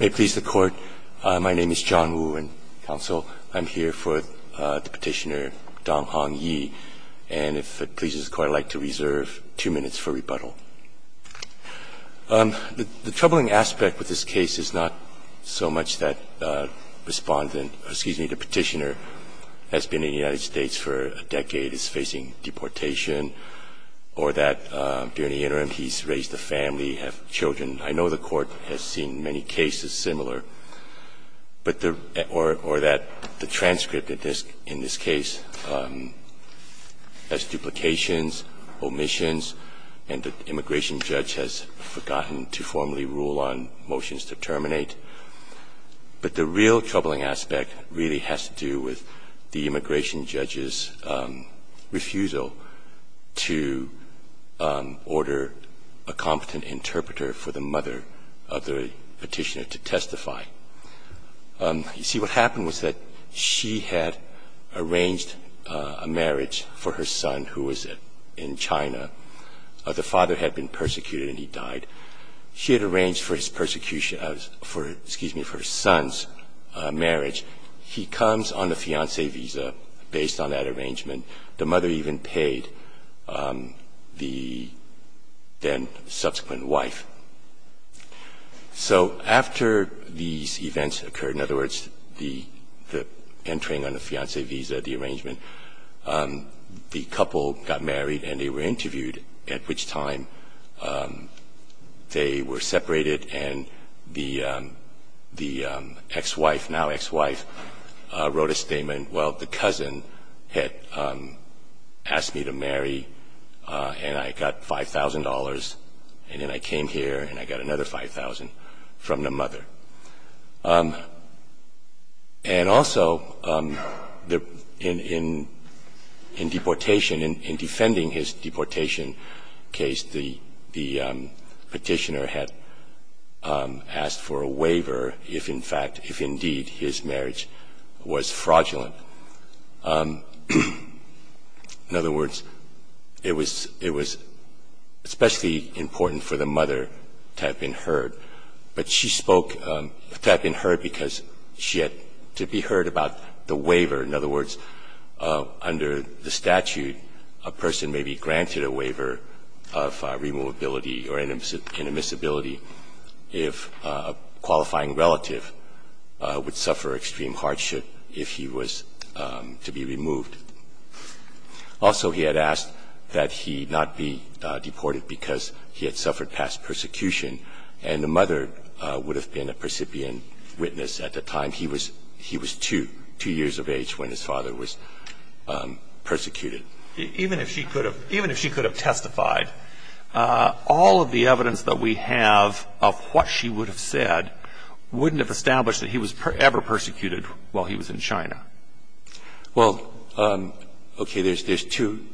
May it please the Court, my name is John Woo, and counsel, I'm here for the petitioner Donghong Ye. And if it pleases the Court, I'd like to reserve two minutes for rebuttal. The troubling aspect with this case is not so much that the petitioner has been in the United States for a decade, is facing deportation, or that during the interim he's raised a family, have children. I know the Court has seen many cases similar, or that the transcript in this case has duplications, omissions, and the immigration judge has forgotten to formally rule on motions to terminate. But the real troubling aspect really has to do with the immigration judge's refusal to order a competent interpreter for the mother of the petitioner to testify. You see, what happened was that she had arranged a marriage for her son, who was in China. The father had been persecuted and he died. She had arranged for his persecution, excuse me, for his son's marriage. He comes on a fiancé visa based on that arrangement. The mother even paid the then subsequent wife. So after these events occurred, in other words, the entering on the fiancé visa, the arrangement, the couple got married and they were interviewed, at which time they were separated and the ex-wife, now ex-wife, wrote a statement, well, the cousin had asked me to marry and I got $5,000, and then I came here and I got another $5,000 from the mother. And also, in deportation, in defending his deportation case, the petitioner had asked for a waiver if, in fact, if indeed his marriage was fraudulent. In other words, it was especially important for the mother to have been heard, but she spoke to have been heard because she had to be heard about the waiver. In other words, under the statute, a person may be granted a waiver of removability or an admissibility if a qualifying relative would suffer extreme hardship if he was to be removed. Also, he had asked that he not be deported because he had suffered past persecution. And the mother would have been a percipient witness at the time. He was two years of age when his father was persecuted. Even if she could have testified, all of the evidence that we have of what she would have said wouldn't have established that he was ever persecuted while he was in China. Well, okay. There's two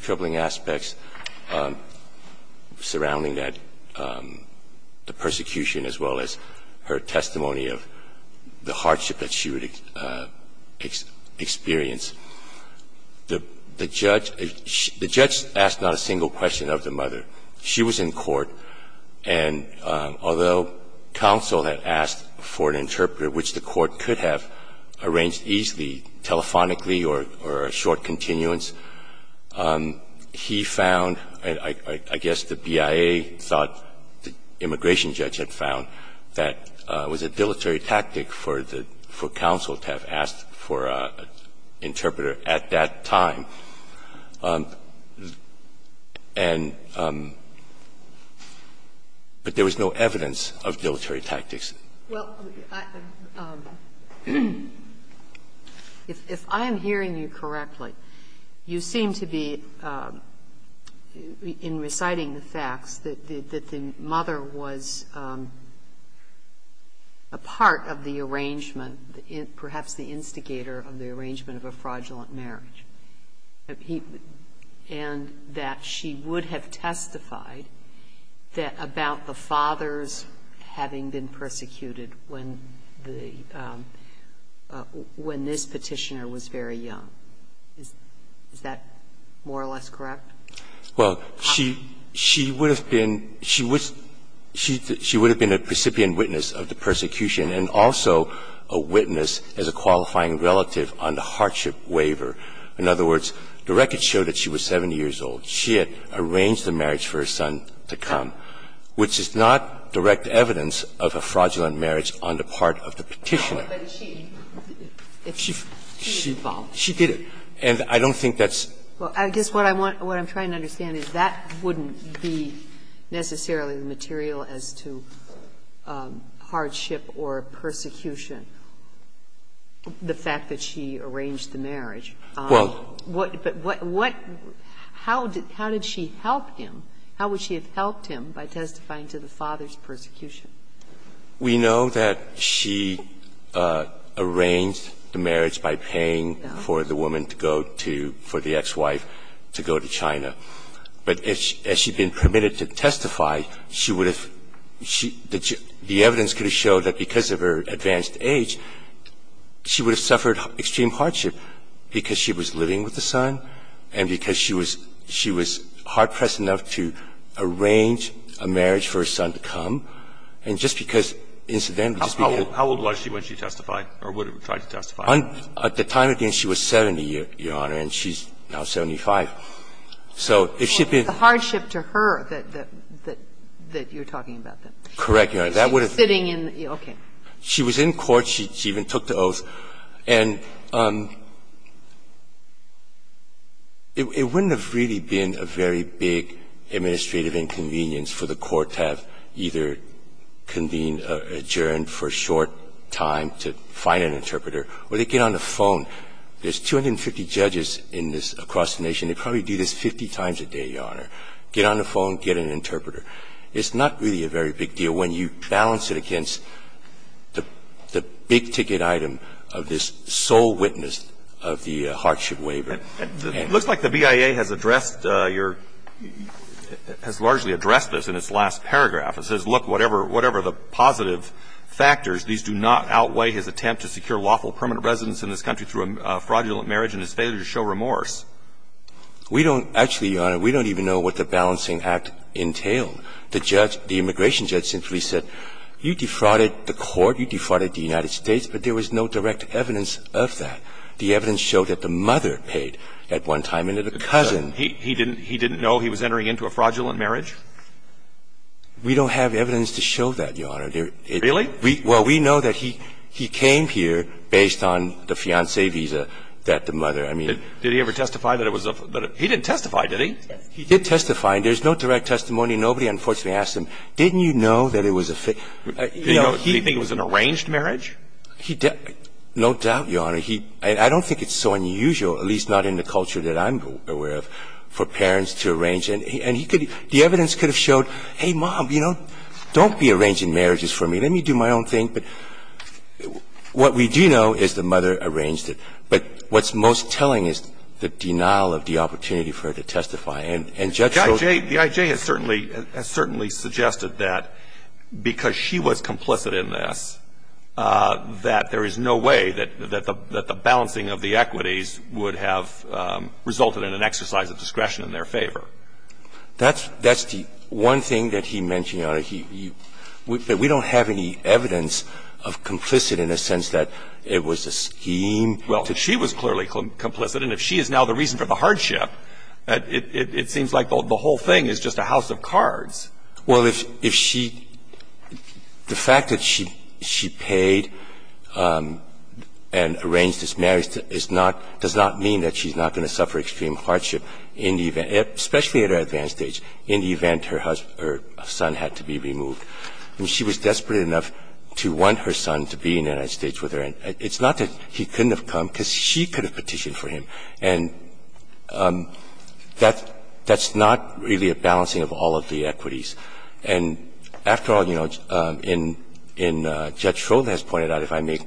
troubling aspects surrounding that, the persecution as well as her testimony of the hardship that she would experience. The judge asked not a single question of the mother. She was in court. And although counsel had asked for an interpreter, which the court could have arranged easily, telephonically or a short continuance, he found, I guess the BIA thought the immigration judge had found, that it was a dilatory tactic for the counsel to have asked for an interpreter at that time. And but there was no evidence of dilatory tactics. Well, if I'm hearing you correctly, you seem to be, in reciting the facts, that the mother was a part of the arrangement, perhaps the instigator of the arrangement of a fraudulent marriage, and that she would have testified about the father's having been persecuted when this Petitioner was very young. Is that more or less correct? Well, she would have been a recipient witness of the persecution and also a witness as a qualifying relative on the hardship waiver. In other words, the record showed that she was 70 years old. She had arranged the marriage for her son to come, which is not direct evidence of a fraudulent marriage on the part of the Petitioner. No, but she did it. And I don't think that's the case. Well, I guess what I'm trying to understand is that wouldn't be necessarily the material as to hardship or persecution, the fact that she arranged the marriage. But what – how did she help him? How would she have helped him by testifying to the father's persecution? We know that she arranged the marriage by paying for the woman to go to – for the ex-wife to go to China. But as she'd been permitted to testify, she would have – the evidence could have And if she hadn't, at that age, she would have suffered extreme hardship because she was living with a son and because she was – she was hard-pressed enough to arrange a marriage for her son to come. And just because, incidentally, just because – How old was she when she testified or would have tried to testify? At the time, again, she was 70, Your Honor, and she's now 75. So if she'd been – Well, it's the hardship to her that you're talking about, then. Correct, Your Honor. Sitting in – okay. She was in court. She even took the oath. And it wouldn't have really been a very big administrative inconvenience for the court to have either convened or adjourned for a short time to find an interpreter or they get on the phone. There's 250 judges in this – across the nation. They probably do this 50 times a day, Your Honor. Get on the phone. Get an interpreter. It's not really a very big deal when you balance it against the big-ticket item of this sole witness of the hardship waiver. It looks like the BIA has addressed your – has largely addressed this in its last paragraph. It says, look, whatever the positive factors, these do not outweigh his attempt to secure lawful permanent residence in this country through a fraudulent marriage and his failure to show remorse. We don't – actually, Your Honor, we don't even know what the balancing act entailed. The judge – the immigration judge simply said, you defrauded the court, you defrauded the United States, but there was no direct evidence of that. The evidence showed that the mother paid at one time and that the cousin – He didn't know he was entering into a fraudulent marriage? We don't have evidence to show that, Your Honor. Really? Well, we know that he came here based on the fiancé visa that the mother – I mean Did he ever testify that it was a – he didn't testify, did he? He did testify. There's no direct testimony. Nobody, unfortunately, asked him, didn't you know that it was a – Do you think it was an arranged marriage? No doubt, Your Honor. I don't think it's so unusual, at least not in the culture that I'm aware of, for parents to arrange. And he could – the evidence could have showed, hey, Mom, you know, don't be arranging marriages for me. Let me do my own thing. But what we do know is the mother arranged it. But what's most telling is the denial of the opportunity for her to testify. And Judge wrote – The I.J. has certainly – has certainly suggested that because she was complicit in this, that there is no way that the balancing of the equities would have resulted in an exercise of discretion in their favor. That's the one thing that he mentioned, Your Honor. But we don't have any evidence of complicit in the sense that it was a scheme. Well, if she was clearly complicit and if she is now the reason for the hardship, it seems like the whole thing is just a house of cards. Well, if she – the fact that she paid and arranged this marriage is not – does not mean that she's not going to suffer extreme hardship in the event – especially in the event her son had to be removed. I mean, she was desperate enough to want her son to be in the United States with her. It's not that he couldn't have come because she could have petitioned for him. And that's not really a balancing of all of the equities. And after all, you know, in – Judge Schroeder has pointed out, if I may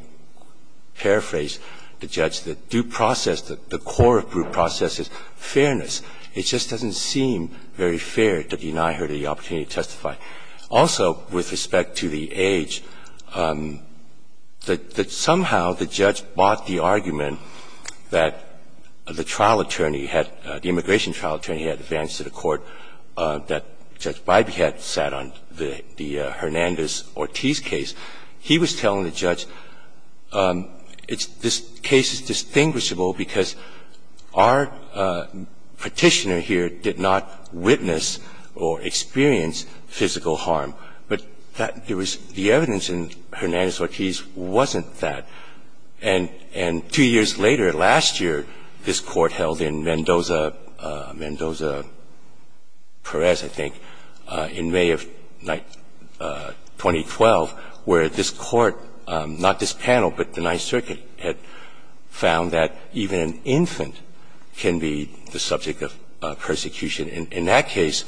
paraphrase the judge, that due process, the core of due process is fairness. It just doesn't seem very fair to deny her the opportunity to testify. Also, with respect to the age, that somehow the judge bought the argument that the trial attorney had – the immigration trial attorney had advanced to the court that Judge Bybee had sat on, the Hernandez-Ortiz case. He was telling the judge, it's – this case is distinguishable because our particular petitioner here did not witness or experience physical harm. But that – there was – the evidence in Hernandez-Ortiz wasn't that. And two years later, last year, this Court held in Mendoza – Mendoza-Perez, I think, in May of 2012, where this Court – not this panel, but the Ninth Circuit had found that even an infant can be the subject of persecution. In that case,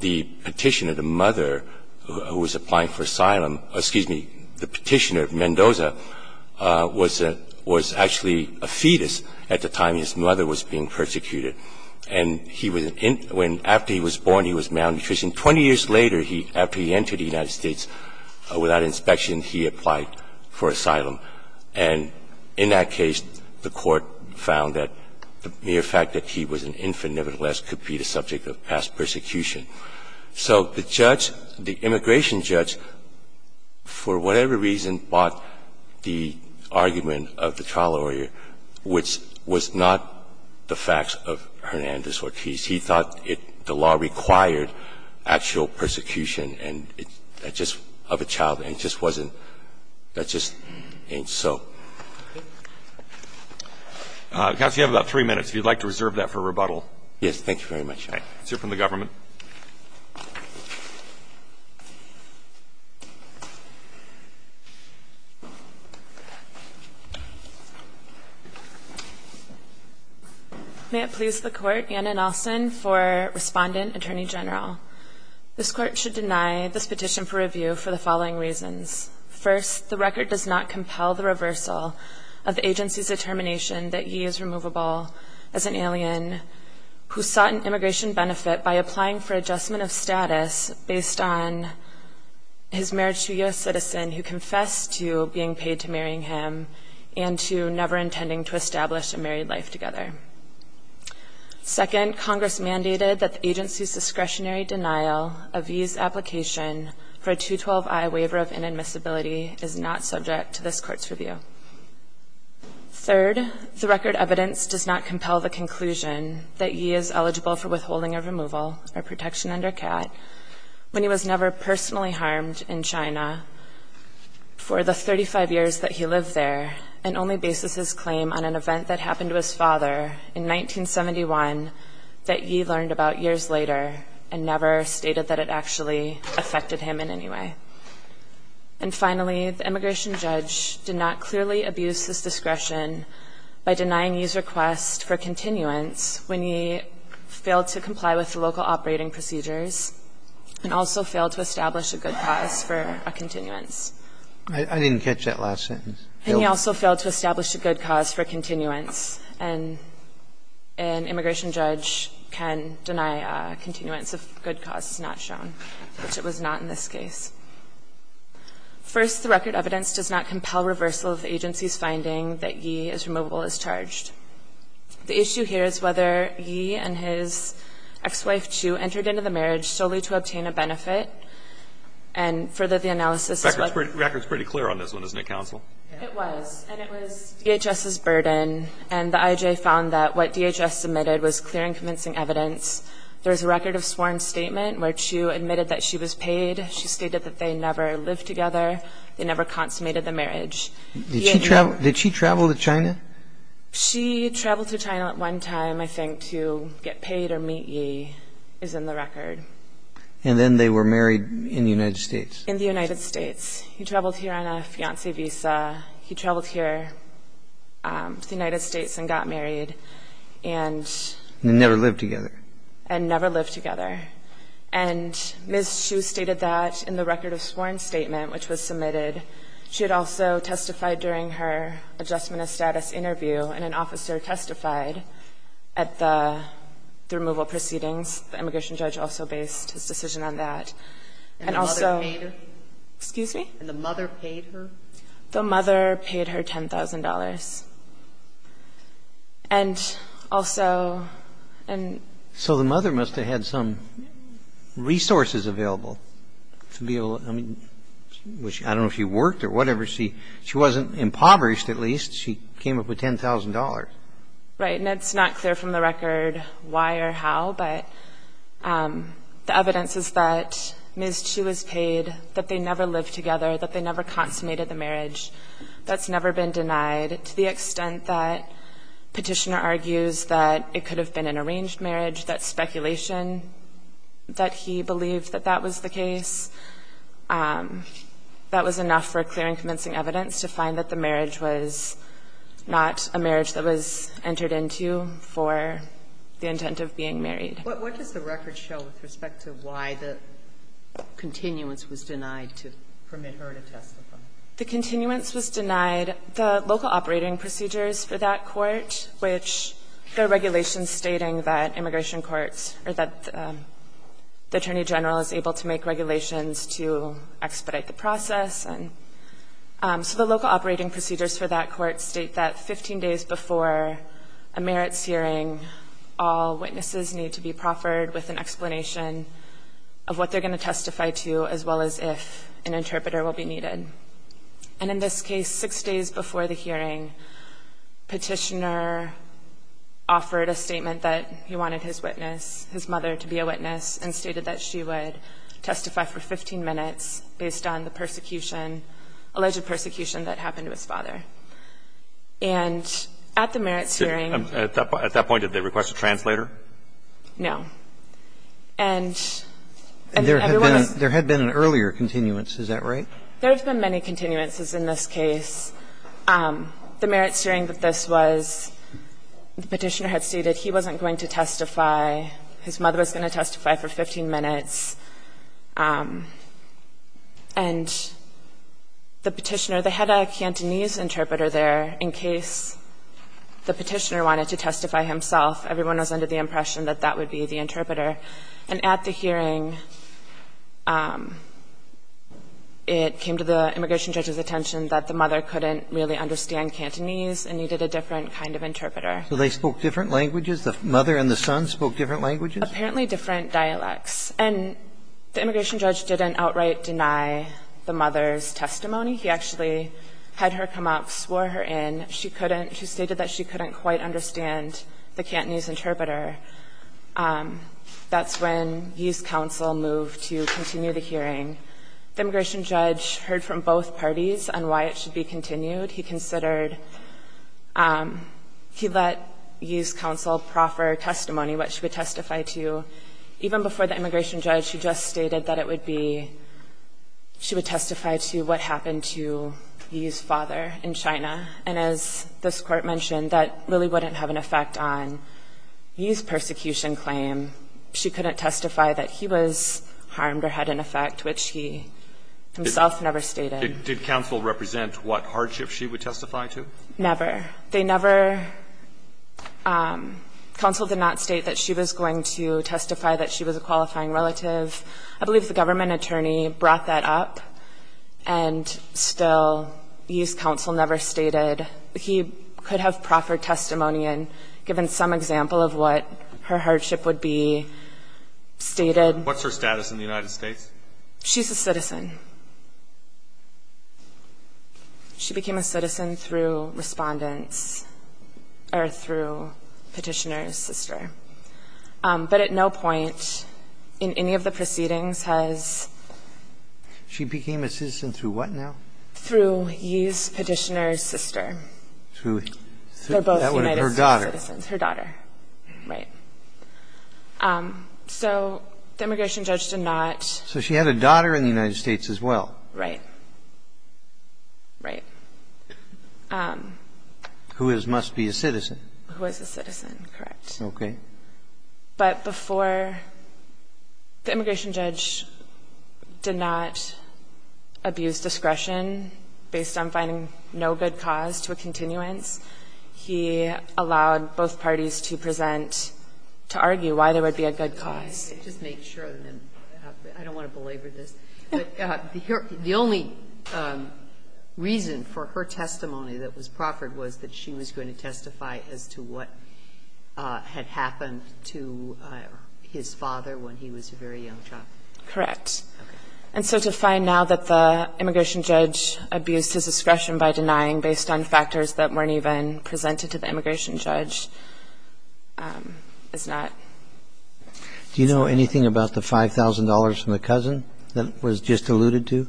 the petitioner, the mother who was applying for asylum – excuse me, the petitioner of Mendoza was actually a fetus at the time his mother was being persecuted. And he was – when – after he was born, he was malnutritioned. Twenty years later, he – after he entered the United States without inspection, he applied for asylum. And in that case, the Court found that the mere fact that he was an infant nevertheless could be the subject of past persecution. So the judge, the immigration judge, for whatever reason, bought the argument of the trial lawyer, which was not the facts of Hernandez-Ortiz. He thought it – the law required actual persecution and – just of a child. And it just wasn't – that just ain't so. Okay. Counsel, you have about three minutes, if you'd like to reserve that for rebuttal. Thank you very much, Your Honor. All right. Let's hear from the government. May it please the Court, Anna Nelson for Respondent, Attorney General. This Court should deny this petition for review for the following reasons. First, the record does not compel the reversal of the agency's determination that he is removable as an alien who sought an immigration benefit by applying for adjustment of status based on his marriage to a U.S. citizen who confessed to being paid to marrying him and to never intending to establish a married life together. Second, Congress mandated that the agency's discretionary denial of Yi's application for a 212-I waiver of inadmissibility is not subject to this Court's review. Third, the record evidence does not compel the conclusion that Yi is eligible for withholding a removal or protection under CAT when he was never personally harmed in China for the 35 years that he lived there and only bases his claim on an event that happened to his father in 1971 that Yi learned about years later and never stated that it actually affected him in any way. And finally, the immigration judge did not clearly abuse this discretion by denying Yi's request for continuance when Yi failed to comply with the local operating procedures and also failed to establish a good cause for a continuance. I didn't catch that last sentence. And he also failed to establish a good cause for continuance. And an immigration judge can deny continuance if good cause is not shown, which it was not in this case. First, the record evidence does not compel reversal of the agency's finding that Yi is removable as charged. The issue here is whether Yi and his ex-wife, Chu, entered into the marriage solely to obtain a benefit and further the analysis The record's pretty clear on this one, isn't it, counsel? It was. And it was DHS's burden. And the IJ found that what DHS submitted was clear and convincing evidence. There's a record of sworn statement where Chu admitted that she was paid. She stated that they never lived together. They never consummated the marriage. Did she travel to China? She traveled to China at one time, I think, to get paid or meet Yi is in the record. And then they were married in the United States? In the United States. He traveled here on a fiancé visa. He traveled here to the United States and got married. And never lived together. And never lived together. And Ms. Chu stated that in the record of sworn statement, which was submitted, she had also testified during her adjustment of status interview, and an officer testified at the removal proceedings. The immigration judge also based his decision on that. And also. And the mother paid her? Excuse me? And the mother paid her? The mother paid her $10,000. And also. So the mother must have had some resources available to be able to. I don't know if she worked or whatever. She wasn't impoverished, at least. She came up with $10,000. Right. And it's not clear from the record why or how. But the evidence is that Ms. Chu was paid, that they never lived together, that they never consummated the marriage. That's never been denied. To the extent that Petitioner argues that it could have been an arranged marriage, that speculation that he believed that that was the case, that was enough for clear and convincing evidence to find that the marriage was before the intent of being married. What does the record show with respect to why the continuance was denied to permit her to testify? The continuance was denied. The local operating procedures for that court, which there are regulations stating that immigration courts or that the Attorney General is able to make regulations to expedite the process. And so the local operating procedures for that court state that 15 days before a merits hearing, all witnesses need to be proffered with an explanation of what they're going to testify to as well as if an interpreter will be needed. And in this case, six days before the hearing, Petitioner offered a statement that he wanted his mother to be a witness and stated that she would testify for 15 minutes based on the alleged persecution that happened to his father. And at the merits hearing. At that point, did they request a translator? No. And everyone was. There had been an earlier continuance. Is that right? There have been many continuances in this case. The merits hearing that this was, the Petitioner had stated he wasn't going to testify, his mother was going to testify for 15 minutes. And the Petitioner, they had a Cantonese interpreter there in case the Petitioner wanted to testify himself. Everyone was under the impression that that would be the interpreter. And at the hearing, it came to the immigration judge's attention that the mother couldn't really understand Cantonese and needed a different kind of interpreter. So they spoke different languages? The mother and the son spoke different languages? Apparently different dialects. And the immigration judge didn't outright deny the mother's testimony. He actually had her come up, swore her in. She couldn't. She stated that she couldn't quite understand the Cantonese interpreter. That's when Youth Council moved to continue the hearing. The immigration judge heard from both parties on why it should be continued. He considered, he let Youth Council proffer testimony, what she would testify to, even before the immigration judge. She just stated that it would be, she would testify to what happened to Yi's father in China. And as this Court mentioned, that really wouldn't have an effect on Yi's persecution claim. She couldn't testify that he was harmed or had an effect, which he himself never stated. Did Council represent what hardship she would testify to? Never. They never, Council did not state that she was going to testify that she was a qualifying relative. I believe the government attorney brought that up and still, Youth Council never stated. He could have proffered testimony and given some example of what her hardship would be, stated. She's a citizen. She became a citizen through respondents, or through petitioner's sister. But at no point in any of the proceedings has. She became a citizen through what now? Through Yi's petitioner's sister. Through her daughter. Her daughter. Right. So the immigration judge did not. So she had a daughter in the United States of America. And she was a citizen. And she's a citizen of the United States as well. Right. Right. Who is, must be a citizen. Who is a citizen. Correct. Okay. But before, the immigration judge did not abuse discretion based on finding no good cause to a continuance. He allowed both parties to present, to argue why there would be a good cause. Just make sure, I don't want to belabor this, but the only reason for her testimony that was proffered was that she was going to testify as to what had happened to his father when he was a very young child. Correct. Okay. And so to find now that the immigration judge abused his discretion by denying based on factors that weren't even presented to the immigration judge is not... Do you know anything about the $5,000 from the cousin that was just alluded to?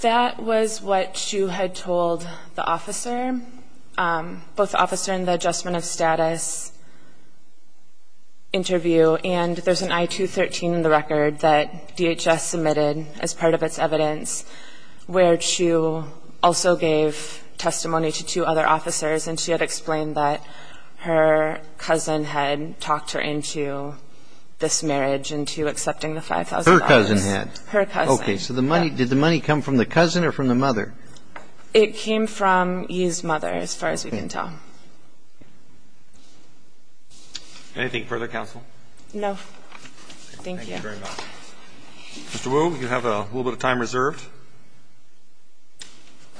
That was what Chu had told the officer, both the officer and the adjustment of status interview. And there's an I-213 in the record that DHS submitted as part of its evidence where Chu also gave testimony to two other officers, and she had explained that her cousin had talked her into this marriage, into accepting the $5,000. Her cousin had. Her cousin. Okay. So did the money come from the cousin or from the mother? It came from Yi's mother, as far as we can tell. Anything further, counsel? No. Thank you. Thank you very much. Mr. Wu, you have a little bit of time reserved.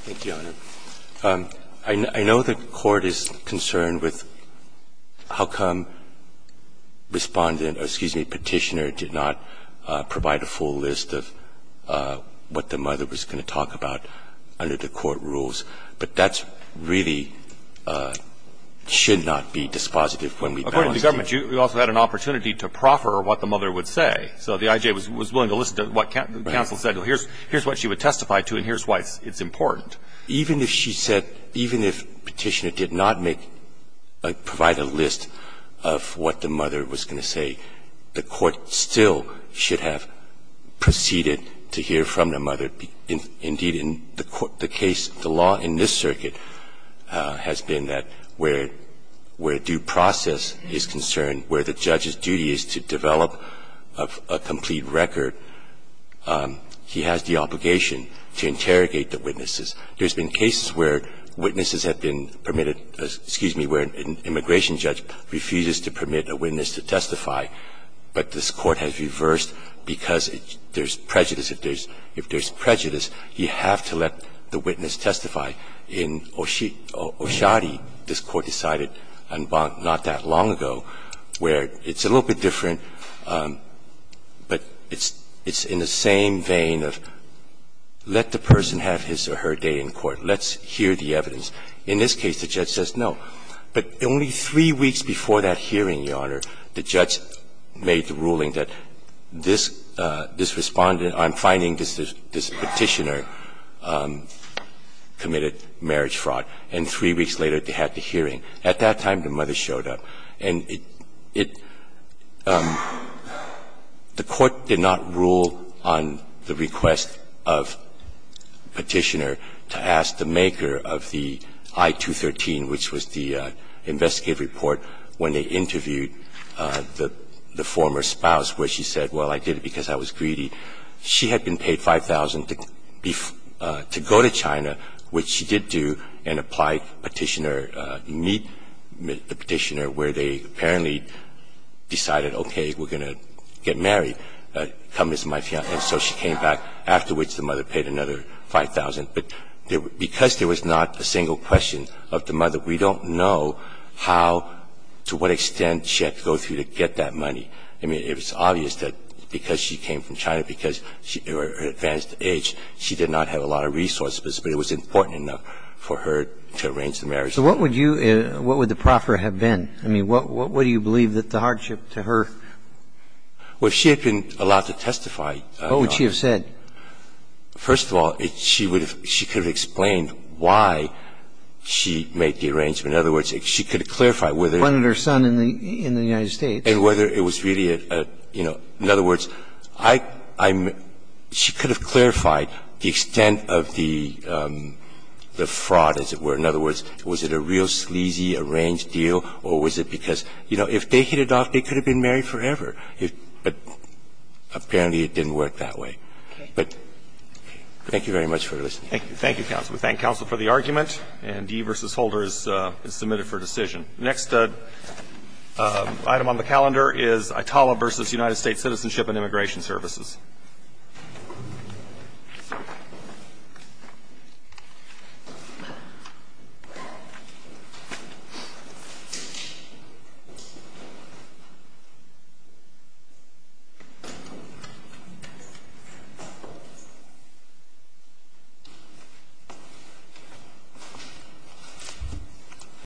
Thank you, Your Honor. I know the Court is concerned with how come Respondent or, excuse me, Petitioner did not provide a full list of what the mother was going to talk about under the court rules. But that really should not be dispositive when we... According to the government, you also had an opportunity to proffer what the mother would say. So the I.J. was willing to listen to what counsel said. Here's what she would testify to and here's why it's important. Even if she said, even if Petitioner did not make, provide a list of what the mother was going to say, the Court still should have proceeded to hear from the mother. Indeed, in the case, the law in this circuit has been that where due process is concerned, where the judge's duty is to develop a complete record, he has the obligation to interrogate the witnesses. There's been cases where witnesses have been permitted, excuse me, where an immigration judge refuses to permit a witness to testify, but this Court has reversed because there's prejudice. If there's prejudice, you have to let the witness testify. In Oshadi, this Court decided not that long ago where it's a little bit different, but it's in the same vein of let the person have his or her day in court. Let's hear the evidence. In this case, the judge says no. But only three weeks before that hearing, Your Honor, the judge made the ruling that this Respondent on finding this Petitioner committed marriage fraud. And three weeks later, they had the hearing. At that time, the mother showed up. And it the Court did not rule on the request of Petitioner to ask the maker of the I-213, which was the investigative report when they interviewed the former spouse where she said, well, I did it because I was greedy. She had been paid $5,000 to go to China, which she did do, and apply Petitioner to meet the Petitioner where they apparently decided, okay, we're going to get married. Come as my fiance. And so she came back. Afterwards, the mother paid another $5,000. But because there was not a single question of the mother, we don't know how to what extent she had to go through to get that money. I mean, it was obvious that because she came from China, because of her advanced age, she did not have a lot of resources. But it was important enough for her to arrange the marriage. So what would you – what would the proffer have been? I mean, what would you believe that the hardship to her – Well, if she had been allowed to testify, Your Honor – What would she have said? First of all, she would have – she could have explained why she made the arrangement. In other words, she could have clarified whether – She wanted her son in the United States. And whether it was really a – you know, in other words, I'm – she could have clarified the extent of the fraud, as it were. In other words, was it a real sleazy, arranged deal, or was it because, you know, if they hit it off, they could have been married forever. But apparently it didn't work that way. But thank you very much for listening. Thank you. Thank you, counsel. We thank counsel for the argument. And D v. Holder is submitted for decision. The next item on the calendar is ITALA v. United States Citizenship and Immigration Services.